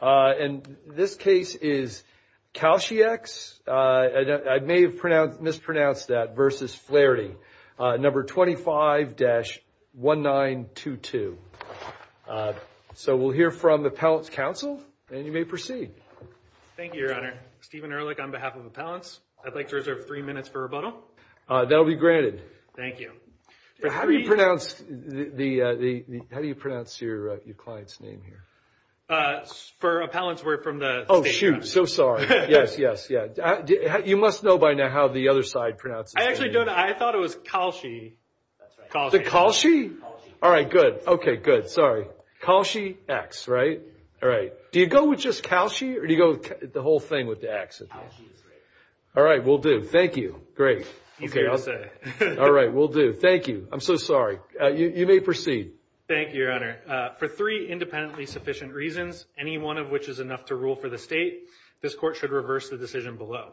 And this case is Kalshiex, I may have mispronounced that, versus Flaherty, number 25-1922. So we'll hear from Appellant's counsel, and you may proceed. Thank you, Your Honor. Stephen Ehrlich on behalf of Appellants. I'd like to reserve three minutes for rebuttal. That'll be granted. Thank you. How do you pronounce your client's name here? For Appellant's, we're from the State Counsel. Oh, shoot. So sorry. Yes, yes, yes. You must know by now how the other side pronounces their name. I actually don't. I thought it was Kalshie. Kalshiex. The Kalshie? Kalshiex. All right, good. Okay, good. Sorry. Kalshiex, right? All right. Do you go with just Kalshie, or do you go with the whole thing with the X at the end? Kalshiex. All right, we'll do. Thank you. Great. Easier to say. All right, we'll do. Thank you. I'm so sorry. You may proceed. Thank you, Your Honor. For three independently sufficient reasons, any one of which is enough to rule for the state, this court should reverse the decision below.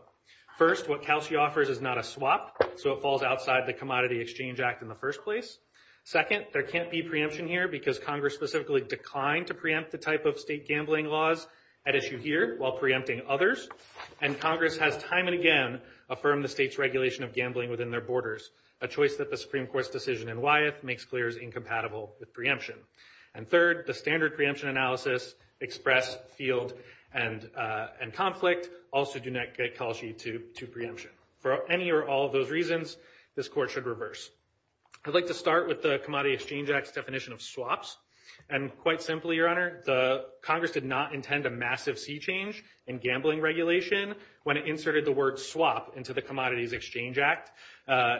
First, what Kalshie offers is not a swap, so it falls outside the Commodity Exchange Act in the first place. Second, there can't be preemption here because Congress specifically declined to preempt the type of state gambling laws at issue here while preempting others, and Congress has time and again affirmed the state's regulation of gambling within their borders, a choice that the Supreme Court's decision in Wyeth makes clear is incompatible with preemption. And third, the standard preemption analysis express field and conflict also do not get Kalshie to preemption. For any or all of those reasons, this court should reverse. I'd like to start with the Commodity Exchange Act's definition of swaps. And quite simply, Your Honor, Congress did not intend a massive sea change in gambling regulation when it inserted the word swap into the Commodities Exchange Act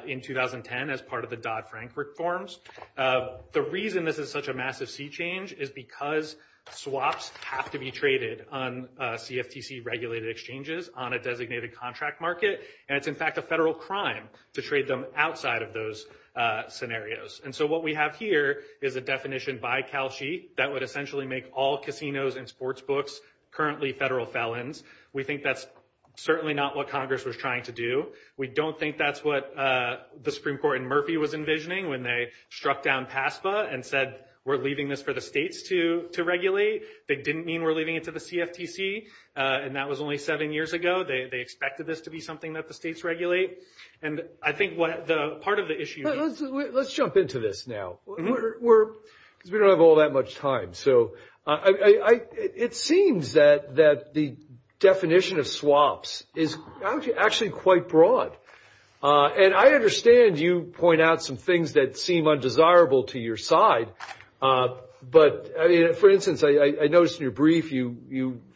in 2010 as part of the Dodd-Frank reforms. The reason this is such a massive sea change is because swaps have to be traded on CFTC regulated exchanges on a designated contract market, and it's in fact a federal crime to trade them outside of those scenarios. And so what we have here is a definition by Kalshie that would essentially make all casinos and sportsbooks currently federal felons. We think that's certainly not what Congress was trying to do. We don't think that's what the Supreme Court in Murphy was envisioning when they struck down PASPA and said, we're leaving this for the states to regulate. They didn't mean we're leaving it to the CFTC, and that was only seven years ago. They expected this to be something that the states regulate. And I think what the part of the issue is. Let's jump into this now. Because we don't have all that much time. So it seems that the definition of swaps is actually quite broad. And I understand you point out some things that seem undesirable to your side. But for instance, I noticed in your brief, I don't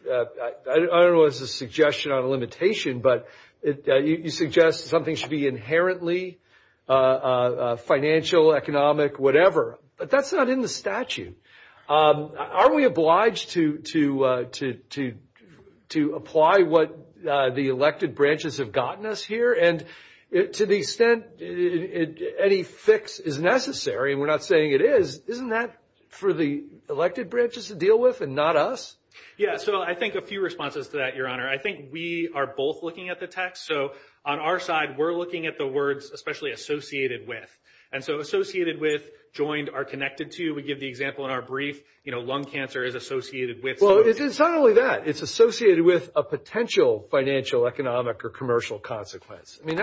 know if it's a suggestion or a limitation, but you suggest something should be inherently financial, economic, whatever. But that's not in the statute. Are we obliged to apply what the elected branches have gotten us here? And to the extent any fix is necessary, and we're not saying it is, isn't that for the elected branches to deal with and not us? Yeah. So I think a few responses to that, Your Honor. I think we are both looking at the text. So on our side, we're looking at the words especially associated with. And so associated with, joined, are connected to. We give the example in our brief, you know, lung cancer is associated with. Well, it's not only that. It's associated with a potential financial, economic, or commercial consequence. I mean,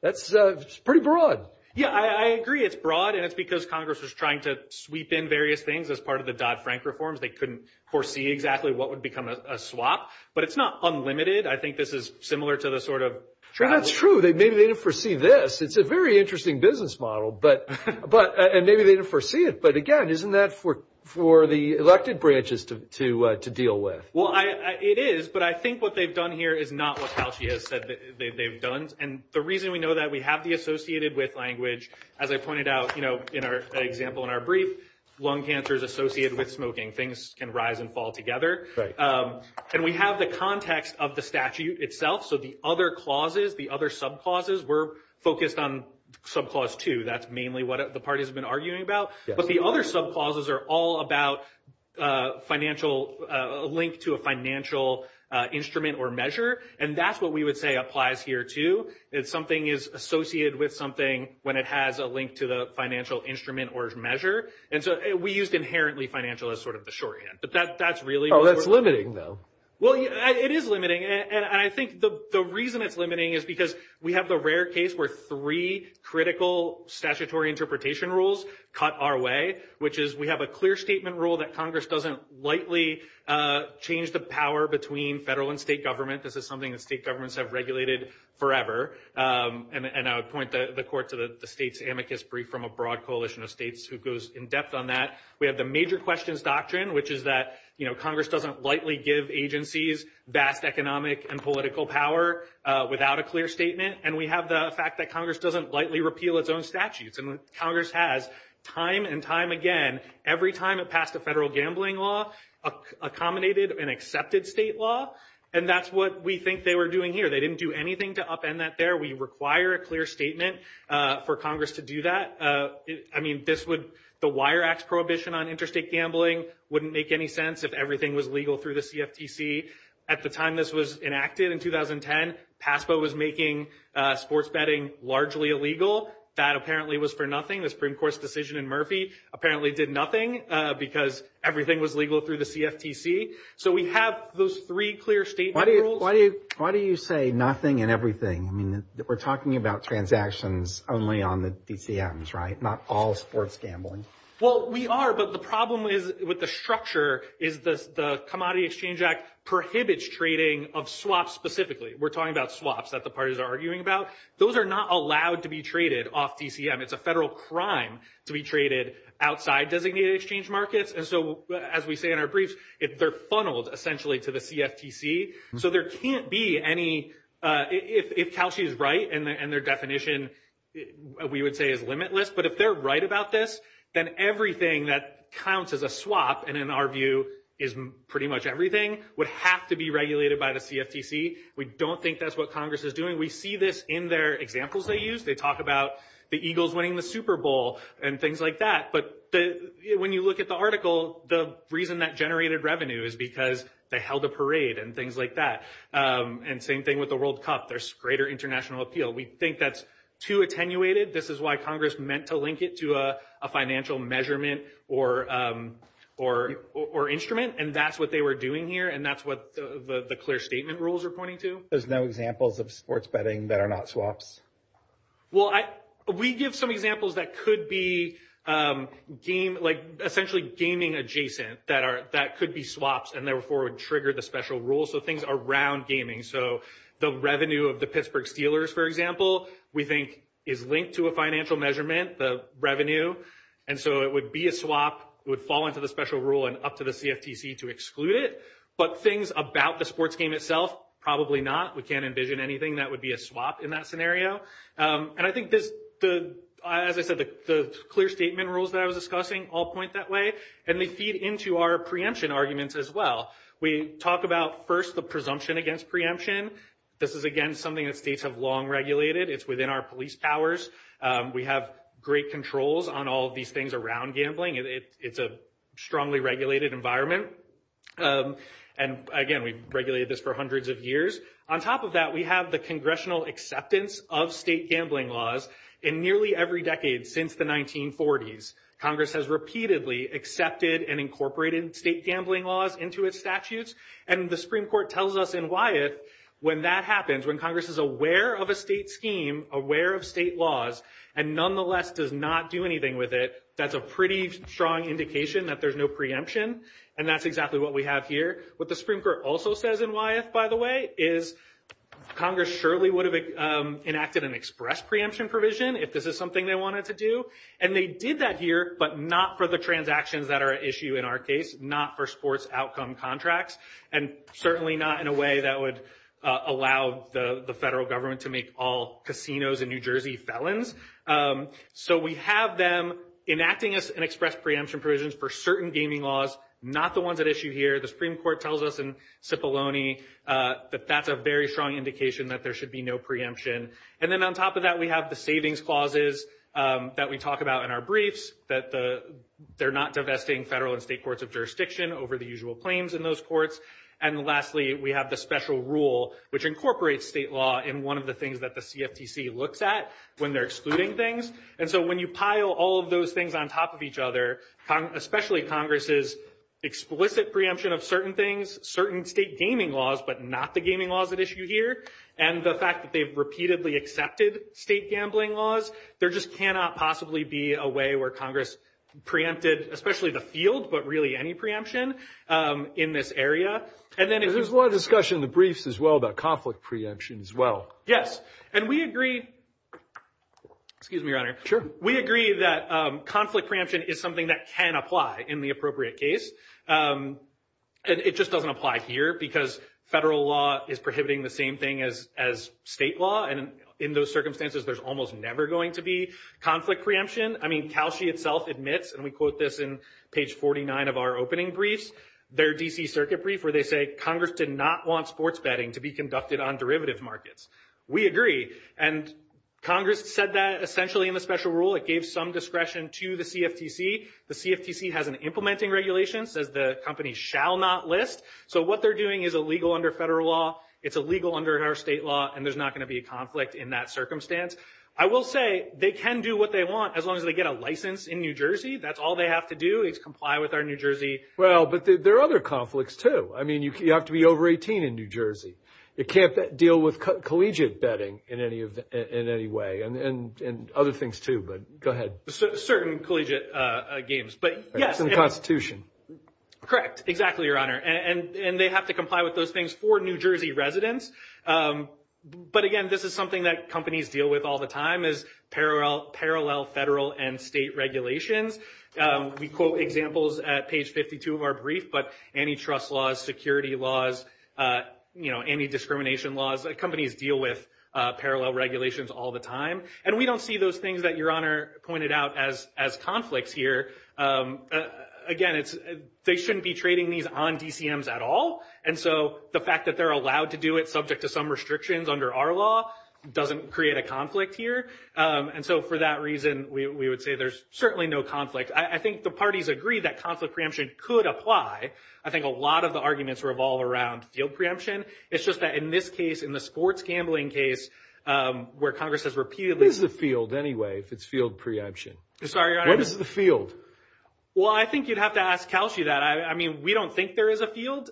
that's pretty broad. Yeah, I agree. It's broad. And it's because Congress was trying to sweep in various things as part of the Dodd-Frank reforms. They couldn't foresee exactly what would become a swap. But it's not unlimited. I think this is similar to the sort of travel. That's true. Maybe they didn't foresee this. It's a very interesting business model, and maybe they didn't foresee it. But again, isn't that for the elected branches to deal with? Well, it is. But I think what they've done here is not what Halchi has said that they've done. And the reason we know that, we have the associated with language, as I pointed out in our example in our brief, lung cancer is associated with smoking. Things can rise and fall together. And we have the context of the statute itself. So the other clauses, the other subclauses, we're focused on subclause two. That's mainly what the party has been arguing about. But the other subclauses are all about a link to a financial instrument or measure. And that's what we would say applies here, too. Something is associated with something when it has a link to the financial instrument or measure. And so we used inherently financial as sort of the shorthand. But that's really- Oh, that's limiting, though. Well, it is limiting. And I think the reason it's limiting is because we have the rare case where three critical statutory interpretation rules cut our way, which is we have a clear statement rule that Congress doesn't lightly change the power between federal and state government. This is something that state governments have regulated forever. And I would point the court to the state's amicus brief from a broad coalition of states who goes in depth on that. We have the major questions doctrine, which is that Congress doesn't lightly give agencies vast economic and political power without a clear statement. And we have the fact that Congress doesn't lightly repeal its own statutes. And Congress has time and time again, every time it passed a federal gambling law, accommodated an accepted state law. And that's what we think they were doing here. They didn't do anything to upend that there. We require a clear statement for Congress to do that. I mean, this would- the Wire Axe Prohibition on interstate gambling wouldn't make any sense if everything was legal through the CFTC. At the time this was enacted in 2010, PASPA was making sports betting largely illegal. That apparently was for nothing. The Supreme Court's decision in Murphy apparently did nothing because everything was legal through the CFTC. So we have those three clear statement rules. Why do you say nothing and everything? I mean, we're talking about transactions only on the DCMs, right? Not all sports gambling. Well, we are, but the problem is with the structure is the Commodity Exchange Act prohibits trading of swaps specifically. We're talking about swaps that the parties are arguing about. Those are not allowed to be traded off DCM. It's a federal crime to be traded outside designated exchange markets. And so as we say in our briefs, they're funneled essentially to the CFTC. So there can't be any- if Calshi is right and their definition, we would say, is limitless. But if they're right about this, then everything that counts as a swap, and in our view is pretty much everything, would have to be regulated by the CFTC. We don't think that's what Congress is doing. We see this in their examples they use. They talk about the Eagles winning the Super Bowl and things like that. But when you look at the article, the reason that generated revenue is because they held a parade and things like that. And same thing with the World Cup, there's greater international appeal. We think that's too attenuated. This is why Congress meant to link it to a financial measurement or instrument. And that's what they were doing here, and that's what the clear statement rules are pointing to. There's no examples of sports betting that are not swaps. Well, we give some examples that could be game- like essentially gaming adjacent that could be swaps and therefore would trigger the special rule. So things around gaming. So the revenue of the Pittsburgh Steelers, for example, we think is linked to a financial measurement, the revenue. And so it would be a swap, would fall into the special rule and up to the CFTC to exclude it. But things about the sports game itself, probably not. We can't envision anything that would be a swap in that scenario. And I think, as I said, the clear statement rules that I was discussing all point that way. And they feed into our preemption arguments as well. We talk about first the presumption against preemption. This is, again, something that states have long regulated. It's within our police powers. We have great controls on all of these things around gambling. It's a strongly regulated environment. And again, we've regulated this for hundreds of years. On top of that, we have the congressional acceptance of state gambling laws in nearly every decade since the 1940s. Congress has repeatedly accepted and incorporated state gambling laws into its statutes. And the Supreme Court tells us in Wyeth, when that happens, when Congress is aware of a state scheme, aware of state laws, and nonetheless does not do anything with it, that's a pretty strong indication that there's no preemption. And that's exactly what we have here. What the Supreme Court also says in Wyeth, by the way, is Congress surely would have enacted an express preemption provision if this is something they wanted to do. And they did that here, but not for the transactions that are at issue in our case, not for sports outcome contracts, and certainly not in a way that would allow the federal government to make all casinos in New Jersey felons. So we have them enacting us an express preemption provisions for certain gaming laws, not the ones at issue here. The Supreme Court tells us in Cipollone that that's a very strong indication that there should be no preemption. And then on top of that, we have the savings clauses that we talk about in our briefs, that they're not divesting federal and state courts of jurisdiction over the usual claims in those courts. And lastly, we have the special rule, which incorporates state law in one of the things that the CFTC looks at when they're excluding things. And so when you pile all of those things on top of each other, especially Congress's explicit preemption of certain things, certain state gaming laws, but not the gaming laws at issue here. And the fact that they've repeatedly accepted state gambling laws, there just cannot possibly be a way where Congress preempted, especially the field, but really any preemption in this area. And then- There's a lot of discussion in the briefs as well about conflict preemption as well. Yes. And we agree, excuse me, Your Honor. We agree that conflict preemption is something that can apply in the appropriate case. And it just doesn't apply here, because federal law is prohibiting the same thing as state law. And in those circumstances, there's almost never going to be conflict preemption. I mean, Calshi itself admits, and we quote this in page 49 of our opening briefs, their D.C. circuit brief, where they say, Congress did not want sports betting to be conducted on derivative markets. We agree. And Congress said that essentially in the special rule. It gave some discretion to the CFTC. The CFTC has an implementing regulation, says the company shall not list. So what they're doing is illegal under federal law. It's illegal under our state law, and there's not going to be a conflict in that circumstance. I will say, they can do what they want, as long as they get a license in New Jersey. That's all they have to do is comply with our New Jersey- Well, but there are other conflicts too. I mean, you have to be over 18 in New Jersey. It can't deal with collegiate betting in any way, and other things too, but go ahead. Certain collegiate games, but yes- It's in the Constitution. Correct. Exactly, Your Honor. And they have to comply with those things for New Jersey residents. But again, this is something that companies deal with all the time, is parallel federal and state regulations. We quote examples at page 52 of our brief, but antitrust laws, security laws, anti-discrimination laws, companies deal with parallel regulations all the time. And we don't see those things that Your Honor pointed out as conflicts here. Again, they shouldn't be trading these on DCMs at all, and so the fact that they're allowed to do it subject to some restrictions under our law doesn't create a conflict here. And so for that reason, we would say there's certainly no conflict. I think the parties agree that conflict preemption could apply. I think a lot of the arguments revolve around field preemption. It's just that in this case, in the sports gambling case, where Congress has repeatedly- What is the field anyway, if it's field preemption? Sorry, Your Honor. What is the field? Well, I think you'd have to ask Calhie that. I mean, we don't think there is a field.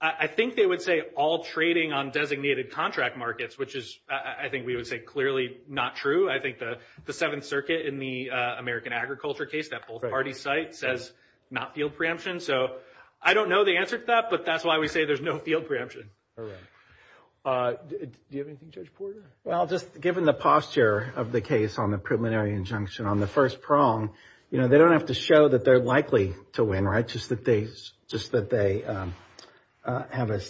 I think they would say all trading on designated contract markets, which is, I think we would say clearly not true. I think the Seventh Circuit in the American Agriculture case, that both parties cite, says not field preemption. So I don't know the answer to that, but that's why we say there's no field preemption. All right. Do you have anything, Judge Porter? Well, just given the posture of the case on the preliminary injunction on the first prong, you know, they don't have to show that they're likely to win, right? Just that they have a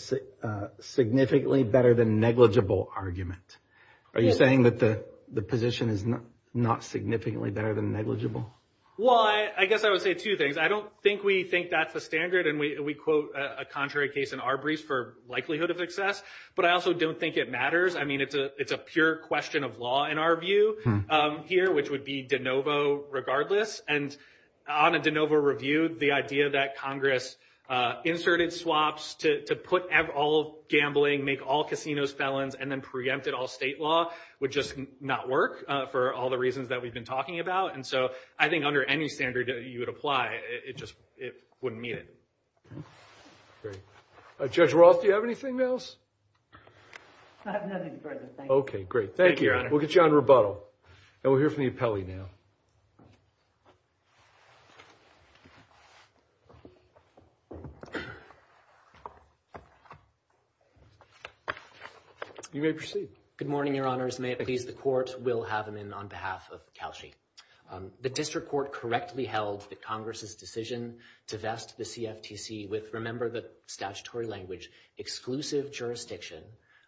significantly better than negligible argument. Are you saying that the position is not significantly better than negligible? Well, I guess I would say two things. I don't think we think that's the standard, and we quote a contrary case in our briefs for likelihood of success, but I also don't think it matters. I mean, it's a pure question of law in our view here, which would be de novo regardless. And on a de novo review, the idea that Congress inserted swaps to put all gambling, make all casinos felons, and then preempted all state law would just not work for all the reasons that we've been talking about. And so I think under any standard that you would apply, it just wouldn't meet it. Great. Judge Roth, do you have anything else? I have nothing further. Thank you. Okay, great. Thank you. Thank you, Your Honor. We'll get you on rebuttal. And we'll hear from the appellee now. You may proceed. Good morning, Your Honors. May it please the Court. We'll have him in on behalf of Kelshey. The district court correctly held that Congress's decision to vest the CFTC with, remember the statutory language, exclusive jurisdiction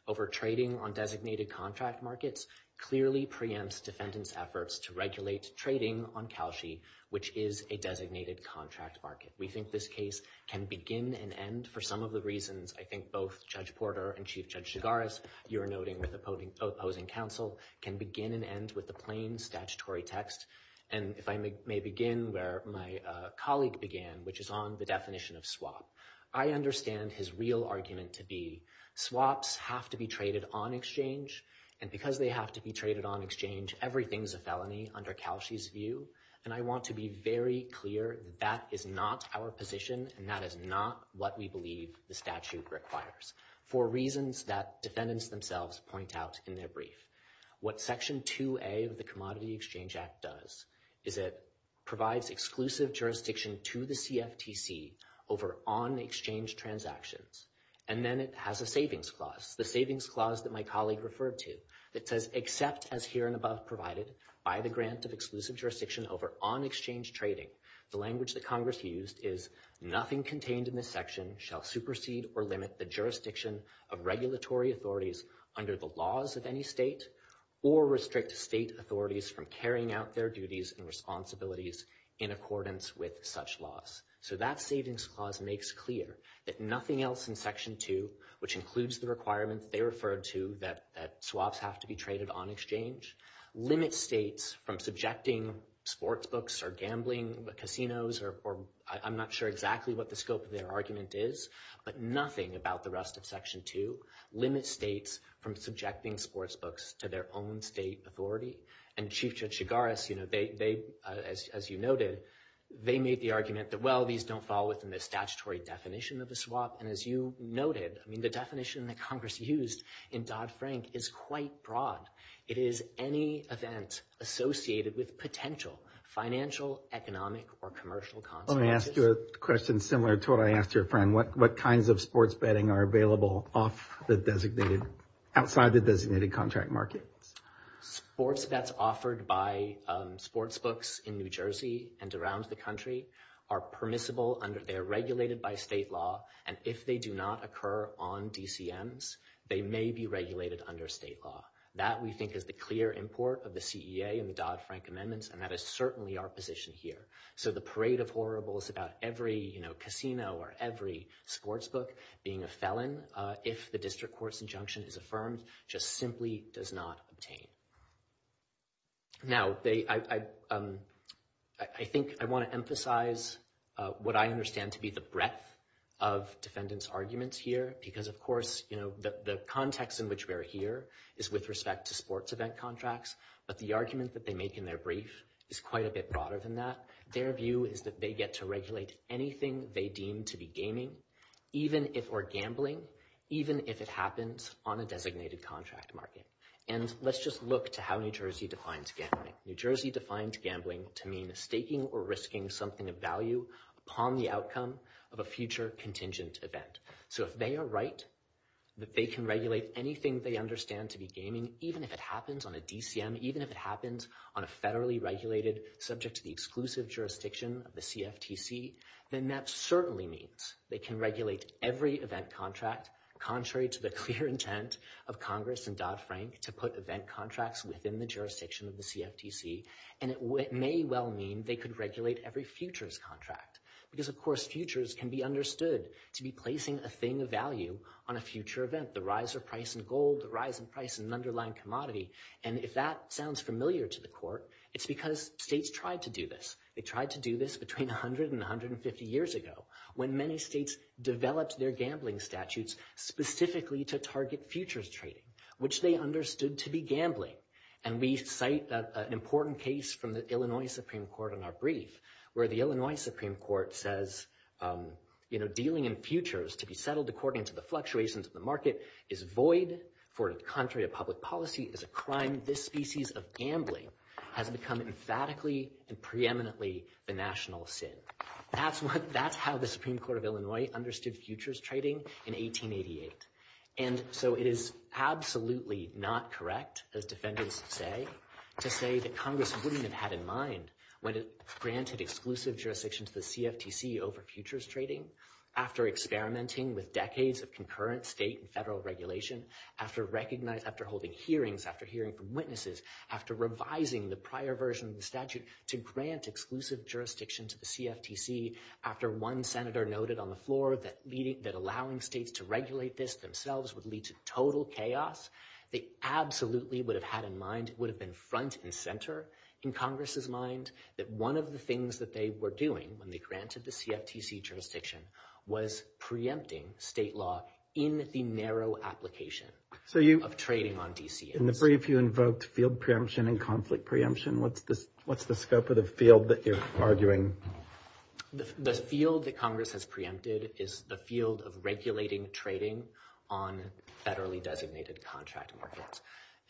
over trading on designated contract markets clearly preempts defendant's efforts to regulate trading on Kelshey, which is a designated contract market. We think this case can begin and end for some of the reasons I think both Judge Porter and Chief Judge Shigaris, you're noting with opposing counsel, can begin and end with the plain and statutory text, and if I may begin where my colleague began, which is on the definition of swap. I understand his real argument to be swaps have to be traded on exchange, and because they have to be traded on exchange, everything's a felony under Kelshey's view. And I want to be very clear, that is not our position, and that is not what we believe the statute requires, for reasons that defendants themselves point out in their brief. What Section 2A of the Commodity Exchange Act does, is it provides exclusive jurisdiction to the CFTC over on-exchange transactions, and then it has a savings clause, the savings clause that my colleague referred to, that says, except as here and above provided by the grant of exclusive jurisdiction over on-exchange trading, the language that Congress used is nothing contained in this section shall supersede or limit the jurisdiction of regulatory authorities under the laws of any state, or restrict state authorities from carrying out their duties and responsibilities in accordance with such laws. So that savings clause makes clear that nothing else in Section 2, which includes the requirements they referred to, that swaps have to be traded on exchange, limits states from subjecting sports books or gambling casinos, or I'm not sure exactly what the scope of their argument is, but nothing about the rest of Section 2 limits states from subjecting sports books to their own state authority. And Chief Judge Chigaris, as you noted, they made the argument that, well, these don't fall within the statutory definition of a swap, and as you noted, the definition that Congress used in Dodd-Frank is quite broad. It is any event associated with potential financial, economic, or commercial consequences. I want to ask you a question similar to what I asked your friend. What kinds of sports betting are available off the designated, outside the designated contract market? Sports bets offered by sports books in New Jersey and around the country are permissible under, they are regulated by state law, and if they do not occur on DCMs, they may be regulated under state law. That we think is the clear import of the CEA and the Dodd-Frank amendments, and that is certainly our position here. So the parade of horribles about every, you know, casino or every sports book being a felon, if the district court's injunction is affirmed, just simply does not obtain. Now, they, I think, I want to emphasize what I understand to be the breadth of defendants' arguments here, because of course, you know, the context in which we are here is with respect to sports event contracts, but the argument that they make in their brief is quite a bit broader than that. Their view is that they get to regulate anything they deem to be gaming, even if, or gambling, even if it happens on a designated contract market. And let's just look to how New Jersey defines gambling. New Jersey defines gambling to mean staking or risking something of value upon the outcome of a future contingent event. So if they are right, that they can regulate anything they understand to be gaming, even if it happens on a DCM, even if it happens on a federally regulated, subject to the exclusive jurisdiction of the CFTC, then that certainly means they can regulate every event contract, contrary to the clear intent of Congress and Dodd-Frank to put event contracts within the jurisdiction of the CFTC. And it may well mean they could regulate every futures contract, because of course, futures can be understood to be placing a thing of value on a future event. The rise of price in gold, the rise in price in an underlying commodity. And if that sounds familiar to the court, it's because states tried to do this. They tried to do this between 100 and 150 years ago, when many states developed their gambling statutes specifically to target futures trading, which they understood to be gambling. And we cite an important case from the Illinois Supreme Court in our brief, where the Illinois Supreme Court says, you know, dealing in futures to be settled according to the fluctuations in the market is void, for contrary to public policy, it is a crime. This species of gambling has become emphatically and preeminently the national sin. That's how the Supreme Court of Illinois understood futures trading in 1888. And so it is absolutely not correct, as defendants say, to say that Congress wouldn't have had in mind when it granted exclusive jurisdiction to the CFTC over futures trading, after experimenting with decades of concurrent state and federal regulation, after holding hearings, after hearing from witnesses, after revising the prior version of the statute to grant exclusive jurisdiction to the CFTC, after one senator noted on the floor that allowing states to regulate this themselves would lead to total chaos. They absolutely would have had in mind, would have been front and center in Congress's mind, that one of the things that they were doing when they granted the CFTC jurisdiction was preempting state law in the narrow application of trading on DCAs. In the brief, you invoked field preemption and conflict preemption. What's the scope of the field that you're arguing? The field that Congress has preempted is the field of regulating trading on federally designated contract markets.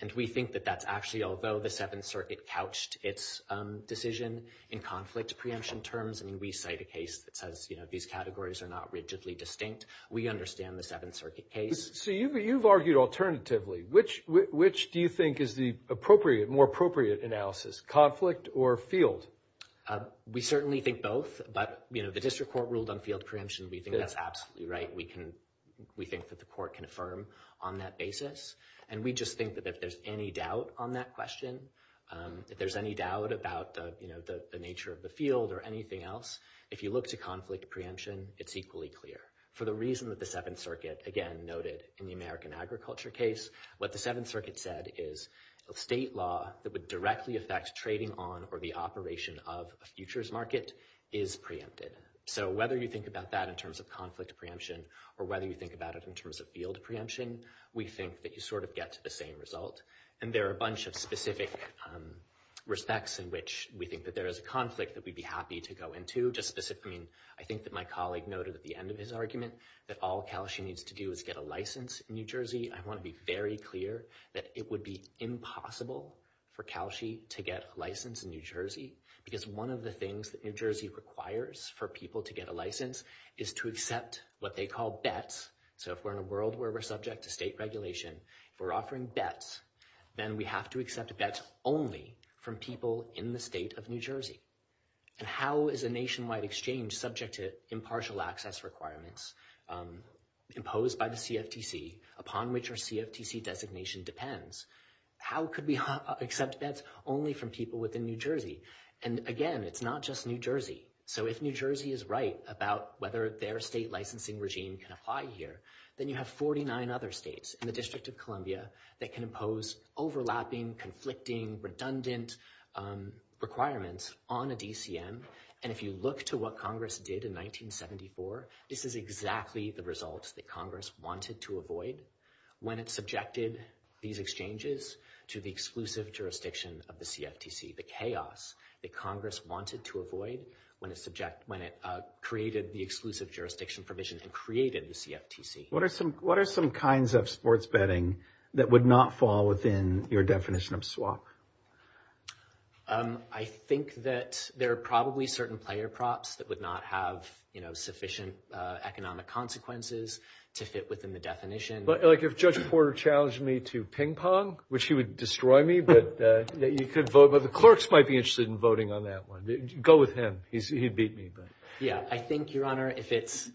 And we think that that's actually, although the Seventh Circuit couched its decision in conflict preemption terms, I mean, we cite a case that says, you know, these categories are not rigidly distinct. We understand the Seventh Circuit case. So you've argued alternatively. Which do you think is the appropriate, more appropriate analysis? Conflict or field? We certainly think both. But, you know, the district court ruled on field preemption. We think that's absolutely right. We think that the court can affirm on that basis. And we just think that if there's any doubt on that question, if there's any doubt about, you know, the nature of the field or anything else, if you look to conflict preemption, it's equally clear. For the reason that the Seventh Circuit, again, noted in the American agriculture case, what the Seventh Circuit said is the state law that would directly affect trading on or the operation of a futures market is preempted. So whether you think about that in terms of conflict preemption or whether you think about it in terms of field preemption, we think that you sort of get to the same result. And there are a bunch of specific respects in which we think that there is a conflict that we'd be happy to go into. Just specifically, I think that my colleague noted at the end of his argument that all Cal-SHE needs to do is get a license in New Jersey. I want to be very clear that it would be impossible for Cal-SHE to get a license in New Jersey because one of the things that New Jersey requires for people to get a license is to accept what they call bets. So if we're in a world where we're subject to state regulation, if we're offering bets, then we have to accept bets only from people in the state of New Jersey. And how is a nationwide exchange subject to impartial access requirements imposed by the CFTC upon which our CFTC designation depends? How could we accept bets only from people within New Jersey? And again, it's not just New Jersey. So if New Jersey is right about whether their state licensing regime can apply here, then you have 49 other states in the District of Columbia that can impose overlapping, conflicting, redundant requirements on a DCM. And if you look to what Congress did in 1974, this is exactly the results that Congress wanted to avoid when it subjected these exchanges to the exclusive jurisdiction of the CFTC. The chaos that Congress wanted to avoid when it created the exclusive jurisdiction provision and created the CFTC. What are some kinds of sports betting that would not fall within your definition of swap? I think that there are probably certain player props that would not have, you know, sufficient economic consequences to fit within the definition. Like if Judge Porter challenged me to ping pong, which he would destroy me, but you could vote, but the clerks might be interested in voting on that one. Go with him. He'd beat me. Yeah, I think, Your Honor, if it's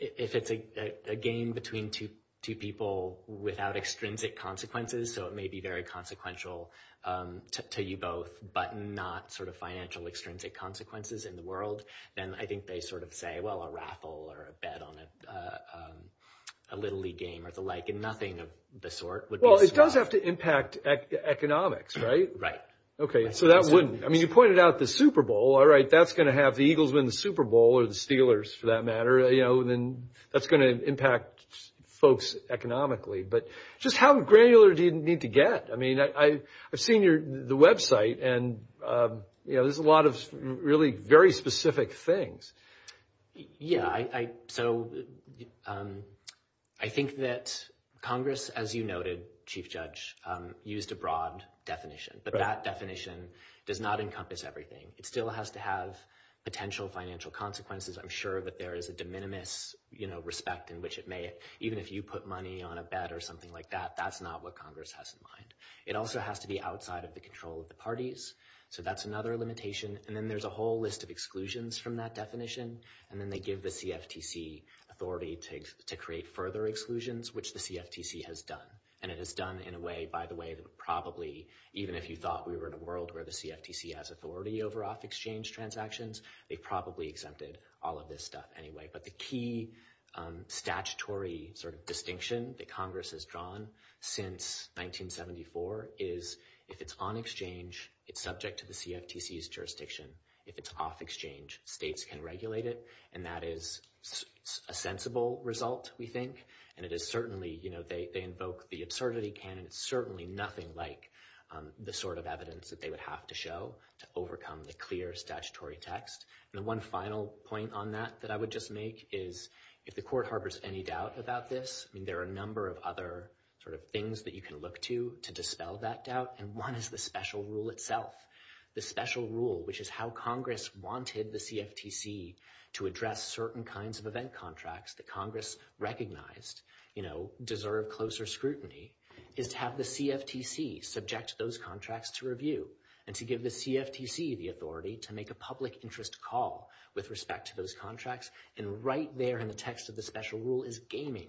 a game between two people without extrinsic consequences, so it may be very consequential to you both, but not sort of financial extrinsic consequences in the world, then I think they sort of say, well, a raffle or a bet on a Little League game or the like, and nothing of the sort would be swapped. Well, it does have to impact economics, right? Right. Okay, so that wouldn't. I mean, you pointed out the Super Bowl, all right? That's going to have the Eagles win the Super Bowl or the Steelers, for that matter, you know, and then that's going to impact folks economically, but just how granular do you need to get? I mean, I've seen the website and, you know, there's a lot of really very specific things. Yeah, so I think that Congress, as you noted, Chief Judge, used a broad definition, but that definition does not encompass everything. It still has to have potential financial consequences. I'm sure that there is a de minimis, you know, respect in which it may, even if you put money on a bet or something like that, that's not what Congress has in mind. It also has to be outside of the control of the parties, so that's another limitation, and then there's a whole list of exclusions from that definition, and then they give the CFTC authority to create further exclusions, which the CFTC has done, and it has done in a way, by the way, that probably, even if you thought we were in a world where the CFTC has authority over off-exchange transactions, they probably exempted all of this stuff anyway. But the key statutory sort of distinction that Congress has drawn since 1974 is if it's on exchange, it's subject to the CFTC's jurisdiction. If it's off-exchange, states can regulate it, and that is a sensible result, we think, and it is certainly, you know, they invoke the absurdity canon, it's certainly nothing like the sort of evidence that they would have to show to overcome the clear statutory text. And the one final point on that that I would just make is if the court harbors any doubt about this, I mean, there are a number of other sort of things that you can look to to dispel that doubt, and one is the special rule itself. The special rule, which is how Congress wanted the CFTC to address certain kinds of event contracts that Congress recognized, you know, deserve closer scrutiny, is to have the CFTC subject those contracts to review, and to give the CFTC the authority to make a public interest call with respect to those contracts, and right there in the text of the special rule is gaming.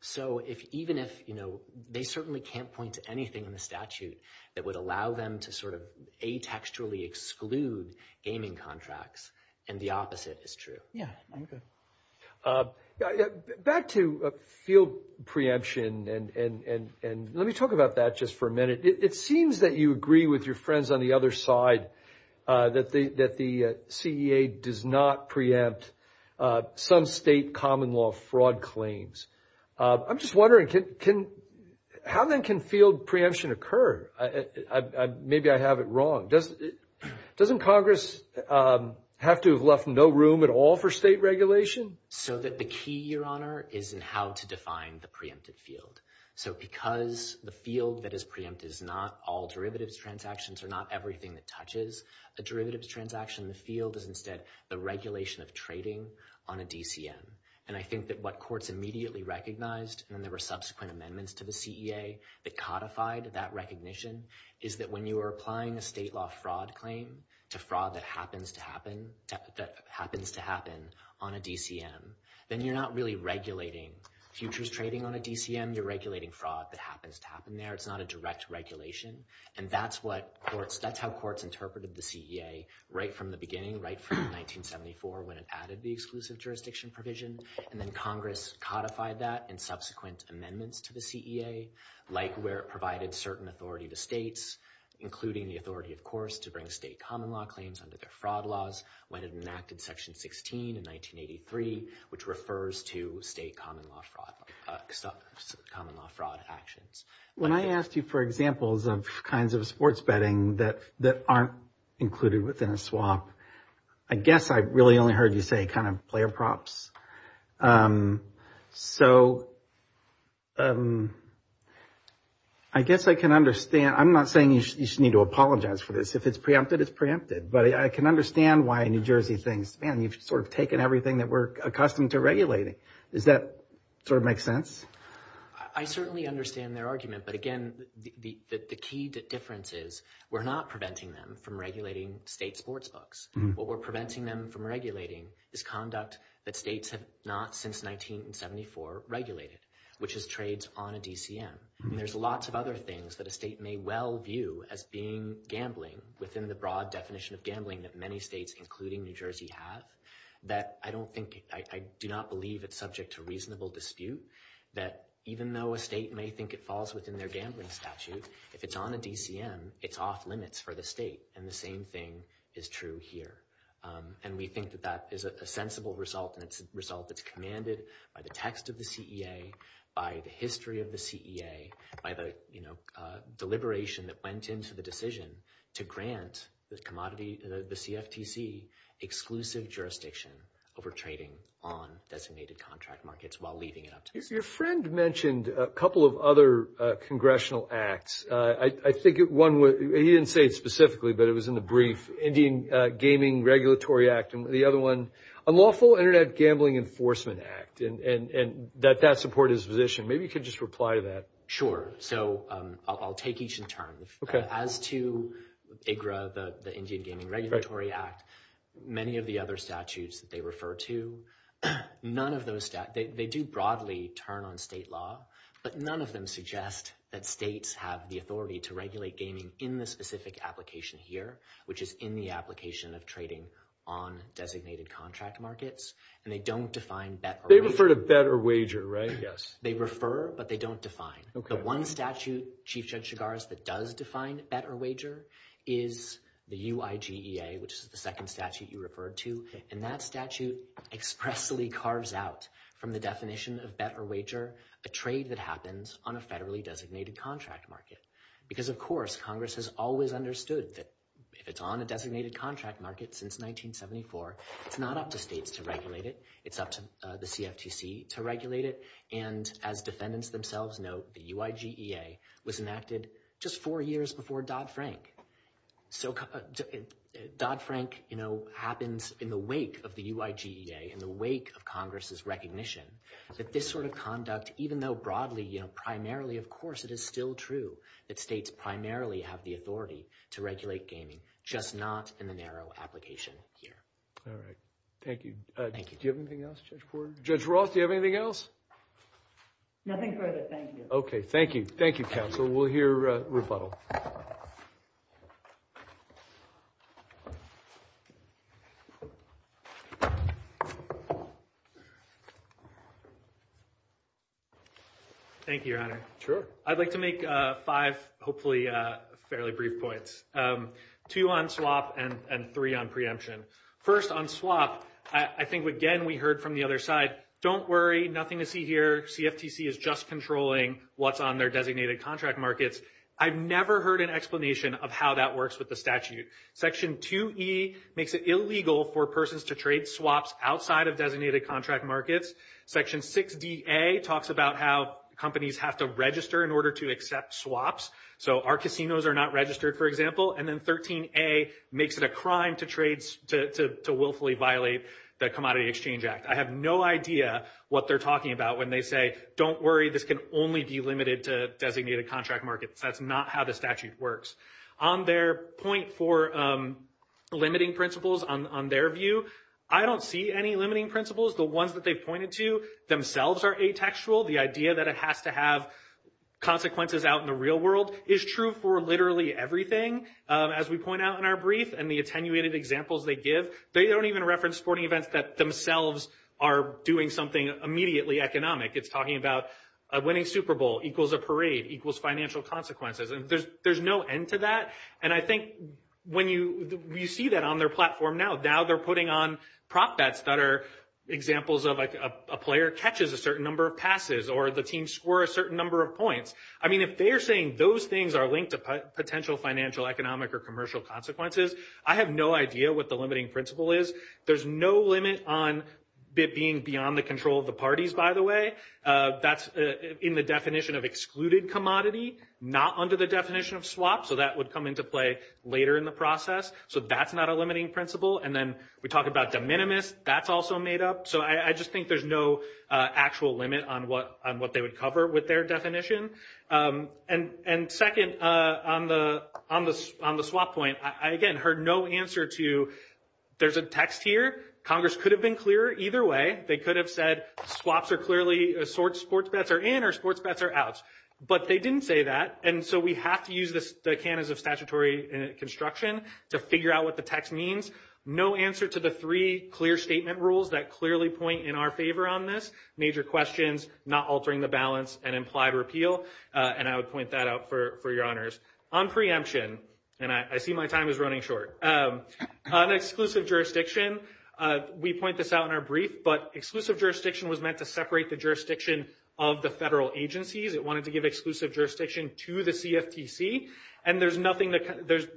So even if, you know, they certainly can't point to anything in the statute that would allow them to sort of atextually exclude gaming contracts, and the opposite is true. Yeah, I'm good. Back to field preemption, and let me talk about that just for a minute. It seems that you agree with your friends on the other side that the CEA does not preempt some state common law fraud claims. I'm just wondering, how then can field preemption occur? Maybe I have it wrong. Doesn't Congress have to have left no room at all for state regulation? So that the key, Your Honor, is in how to define the preempted field. So because the field that is preempted is not all derivatives transactions or not everything that touches a derivatives transaction, the field is instead the regulation of trading on a DCM, and I think that what courts immediately recognized, and there were subsequent amendments to the CEA that codified that recognition, is that when you are applying a state law fraud claim to fraud that happens to happen on a DCM, then you're not really regulating futures trading on a DCM, you're regulating fraud that happens to happen there. It's not a direct regulation, and that's how courts interpreted the CEA right from the beginning, right from 1974 when it added the exclusive jurisdiction provision, and then Congress codified that in subsequent amendments to the CEA, like where it provided certain authority to states, including the authority, of course, to bring state common law claims under their fraud laws when it enacted Section 16 in 1983, which refers to state common law fraud, common law fraud actions. When I asked you for examples of kinds of sports betting that aren't included within a swap, I guess I really only heard you say kind of player props, so I guess I can understand, I'm not saying you should need to apologize for this, if it's preempted, it's preempted, but I can understand why New Jersey thinks, man, you've sort of taken everything that we're accustomed to regulating, does that sort of make sense? I certainly understand their argument, but again, the key difference is we're not preventing them from regulating state sports books, what we're preventing them from regulating is conduct that states have not since 1974 regulated, which is trades on a DCM, and there's lots of other things that a state may well view as being gambling within the broad definition of gambling that many states, including New Jersey, have that I don't think, I do not believe it's subject to reasonable dispute, that even though a state may think it falls within their gambling statute, if it's on a DCM, it's off limits for the state, and the same thing is true here. And we think that that is a sensible result, and it's a result that's commanded by the text of the CEA, by the history of the CEA, by the deliberation that went into the decision to grant the CFTC exclusive jurisdiction over trading on designated contract markets while leaving it up to them. Your friend mentioned a couple of other congressional acts. I think one, he didn't say it specifically, but it was in the brief, Indian Gaming Regulatory Act, and the other one, Unlawful Internet Gambling Enforcement Act, and that that support his position. Maybe you could just reply to that. Sure. So, I'll take each in turn. As to IGRA, the Indian Gaming Regulatory Act, many of the other statutes that they refer to, none of those, they do broadly turn on state law, but none of them suggest that states have the authority to regulate gaming in the specific application here, which is in the application of trading on designated contract markets, and they don't define bet They refer to bet or wager, right? Yes. They refer, but they don't define. Okay. The one statute, Chief Judge Chigars, that does define bet or wager is the UIGEA, which is the second statute you referred to, and that statute expressly carves out from the definition of bet or wager a trade that happens on a federally designated contract market, because of course, Congress has always understood that if it's on a designated contract market since 1974, it's not up to states to regulate it. It's up to the CFTC to regulate it, and as defendants themselves note, the UIGEA was enacted just four years before Dodd-Frank. So Dodd-Frank, you know, happens in the wake of the UIGEA, in the wake of Congress's recognition that this sort of conduct, even though broadly, you know, primarily, of course, it is still true that states primarily have the authority to regulate gaming, just not in the narrow application here. All right. Thank you. Thank you. Do you have anything else, Judge Porter? Judge Roth, do you have anything else? Nothing further. Thank you. Okay. Thank you. Thank you, counsel. We'll hear rebuttal. Thank you, Your Honor. Sure. I'd like to make five, hopefully, fairly brief points, two on swap and three on preemption. First on swap, I think, again, we heard from the other side, don't worry, nothing to see here. CFTC is just controlling what's on their designated contract markets. I've never heard an explanation of how that works with the statute. Section 2E makes it illegal for persons to trade swaps outside of designated contract markets. Section 6DA talks about how companies have to register in order to accept swaps. So our casinos are not registered, for example. And then 13A makes it a crime to trades, to willfully violate the Commodity Exchange Act. I have no idea what they're talking about when they say, don't worry, this can only be limited to designated contract markets. That's not how the statute works. On their point for limiting principles, on their view, I don't see any limiting principles. The ones that they've pointed to themselves are atextual. The idea that it has to have consequences out in the real world is true for literally everything as we point out in our brief and the attenuated examples they give. They don't even reference sporting events that themselves are doing something immediately economic. It's talking about a winning Super Bowl equals a parade, equals financial consequences. There's no end to that. And I think when you see that on their platform now, now they're putting on prop bets that are examples of a player catches a certain number of passes or the team score a certain number of points. I mean, if they're saying those things are linked to potential financial, economic, or commercial consequences, I have no idea what the limiting principle is. There's no limit on being beyond the control of the parties, by the way. That's in the definition of excluded commodity, not under the definition of swap. So that would come into play later in the process. So that's not a limiting principle. And then we talk about de minimis. That's also made up. So I just think there's no actual limit on what they would cover with their definition. And second, on the swap point, I, again, heard no answer to there's a text here. Congress could have been clearer either way. They could have said swaps are clearly sports bets are in or sports bets are out. But they didn't say that. And so we have to use the canons of statutory construction to figure out what the text means. No answer to the three clear statement rules that clearly point in our favor on this. Major questions, not altering the balance, and implied repeal. And I would point that out for your honors. On preemption, and I see my time is running short, on exclusive jurisdiction, we point this out in our brief, but exclusive jurisdiction was meant to separate the jurisdiction of the federal agencies. It wanted to give exclusive jurisdiction to the CFTC. And there's nothing that,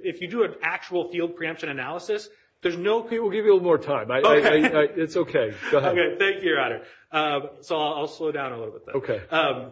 if you do an actual field preemption analysis, there's no, we'll give you a little more time. It's okay. Go ahead. Okay, thank you, your honor. So I'll slow down a little bit. Okay.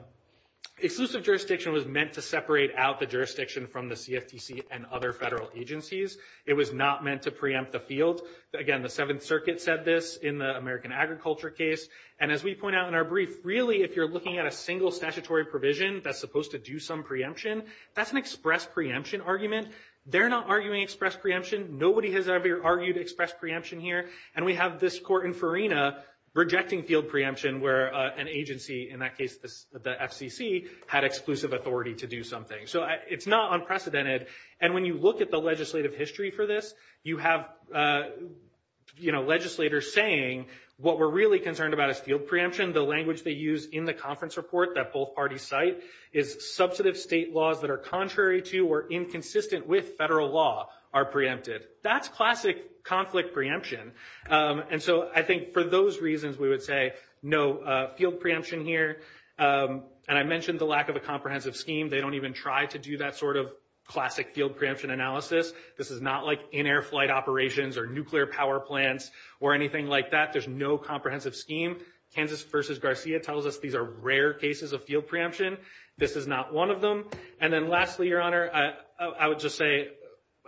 Exclusive jurisdiction was meant to separate out the jurisdiction from the CFTC and other federal agencies. It was not meant to preempt the field. Again, the Seventh Circuit said this in the American Agriculture case. And as we point out in our brief, really, if you're looking at a single statutory provision that's supposed to do some preemption, that's an express preemption argument. They're not arguing express preemption. Nobody has ever argued express preemption here. And we have this court in Farina rejecting field preemption where an agency, in that case, the FCC, had exclusive authority to do something. So it's not unprecedented. And when you look at the legislative history for this, you have, you know, legislators saying what we're really concerned about is field preemption. The language they use in the conference report that both parties cite is substantive state laws that are contrary to or inconsistent with federal law are preempted. That's classic conflict preemption. And so I think for those reasons, we would say no field preemption here. And I mentioned the lack of a comprehensive scheme. They don't even try to do that sort of classic field preemption analysis. This is not like in-air flight operations or nuclear power plants or anything like that. There's no comprehensive scheme. Kansas versus Garcia tells us these are rare cases of field preemption. This is not one of them. And then lastly, Your Honor, I would just say,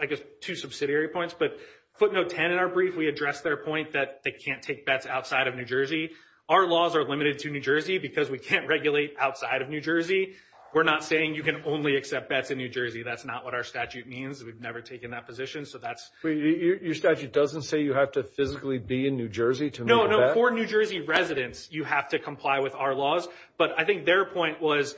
I guess, two subsidiary points. But footnote 10 in our brief, we addressed their point that they can't take bets outside of New Jersey. Our laws are limited to New Jersey because we can't regulate outside of New Jersey. We're not saying you can only accept bets in New Jersey. That's not what our statute means. We've never taken that position. So that's- Wait, your statute doesn't say you have to physically be in New Jersey to- No, no, for New Jersey residents, you have to comply with our laws. But I think their point was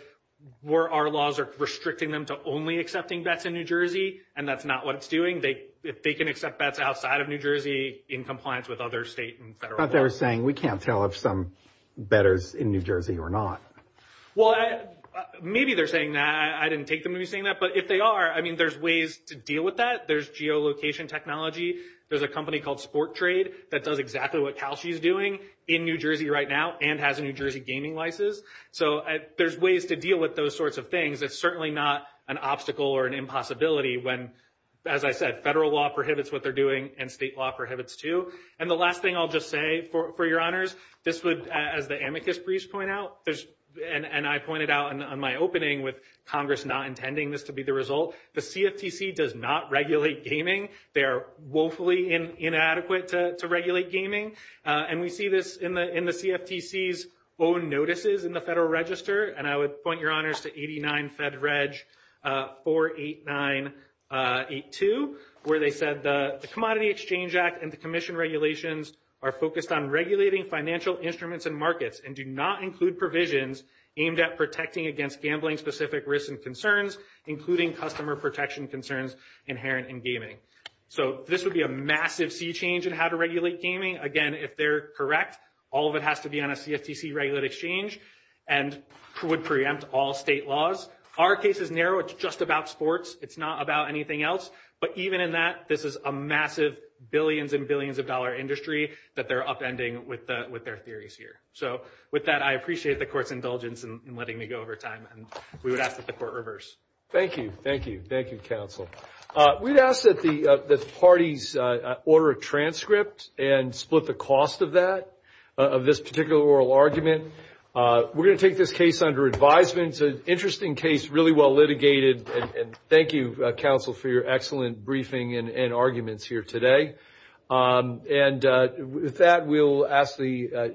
where our laws are restricting them to only accepting bets in New Jersey, and that's not what it's doing. If they can accept bets outside of New Jersey in compliance with other state and federal laws- I thought they were saying, we can't tell if some bettor's in New Jersey or not. Well, maybe they're saying that. I didn't take them to be saying that. But if they are, I mean, there's ways to deal with that. There's geolocation technology. There's a company called Sport Trade that does exactly what Cal-SHE is doing in New Jersey right now and has a New Jersey gaming license. So there's ways to deal with those sorts of things. It's certainly not an obstacle or an impossibility when, as I said, federal law prohibits what they're doing and state law prohibits too. And the last thing I'll just say for your honors, this would, as the amicus briefs point out, and I pointed out in my opening with Congress not intending this to be the result, the CFTC does not regulate gaming. They are woefully inadequate to regulate gaming. And we see this in the CFTC's own notices in the Federal Register. And I would point your honors to 89 Fed Reg 48982, where they said, the Commodity Exchange Act and the commission regulations are focused on regulating financial instruments and markets and do not include provisions aimed at protecting against gambling-specific risks and concerns, including customer protection concerns inherent in gaming. So this would be a massive sea change in how to regulate gaming. Again, if they're correct, all of it has to be on a CFTC-regulated exchange and would preempt all state laws. Our case is narrow. It's just about sports. It's not about anything else. But even in that, this is a massive billions and billions of dollar industry that they're upending with their theories here. So with that, I appreciate the court's indulgence in letting me go over time. And we would ask that the court reverse. Thank you. Thank you. Thank you, counsel. We'd ask that the parties order a transcript and split the cost of that, of this particular oral argument. We're going to take this case under advisement. It's an interesting case, really well litigated. And thank you, counsel, for your excellent briefing and arguments here today. And with that, we'll ask the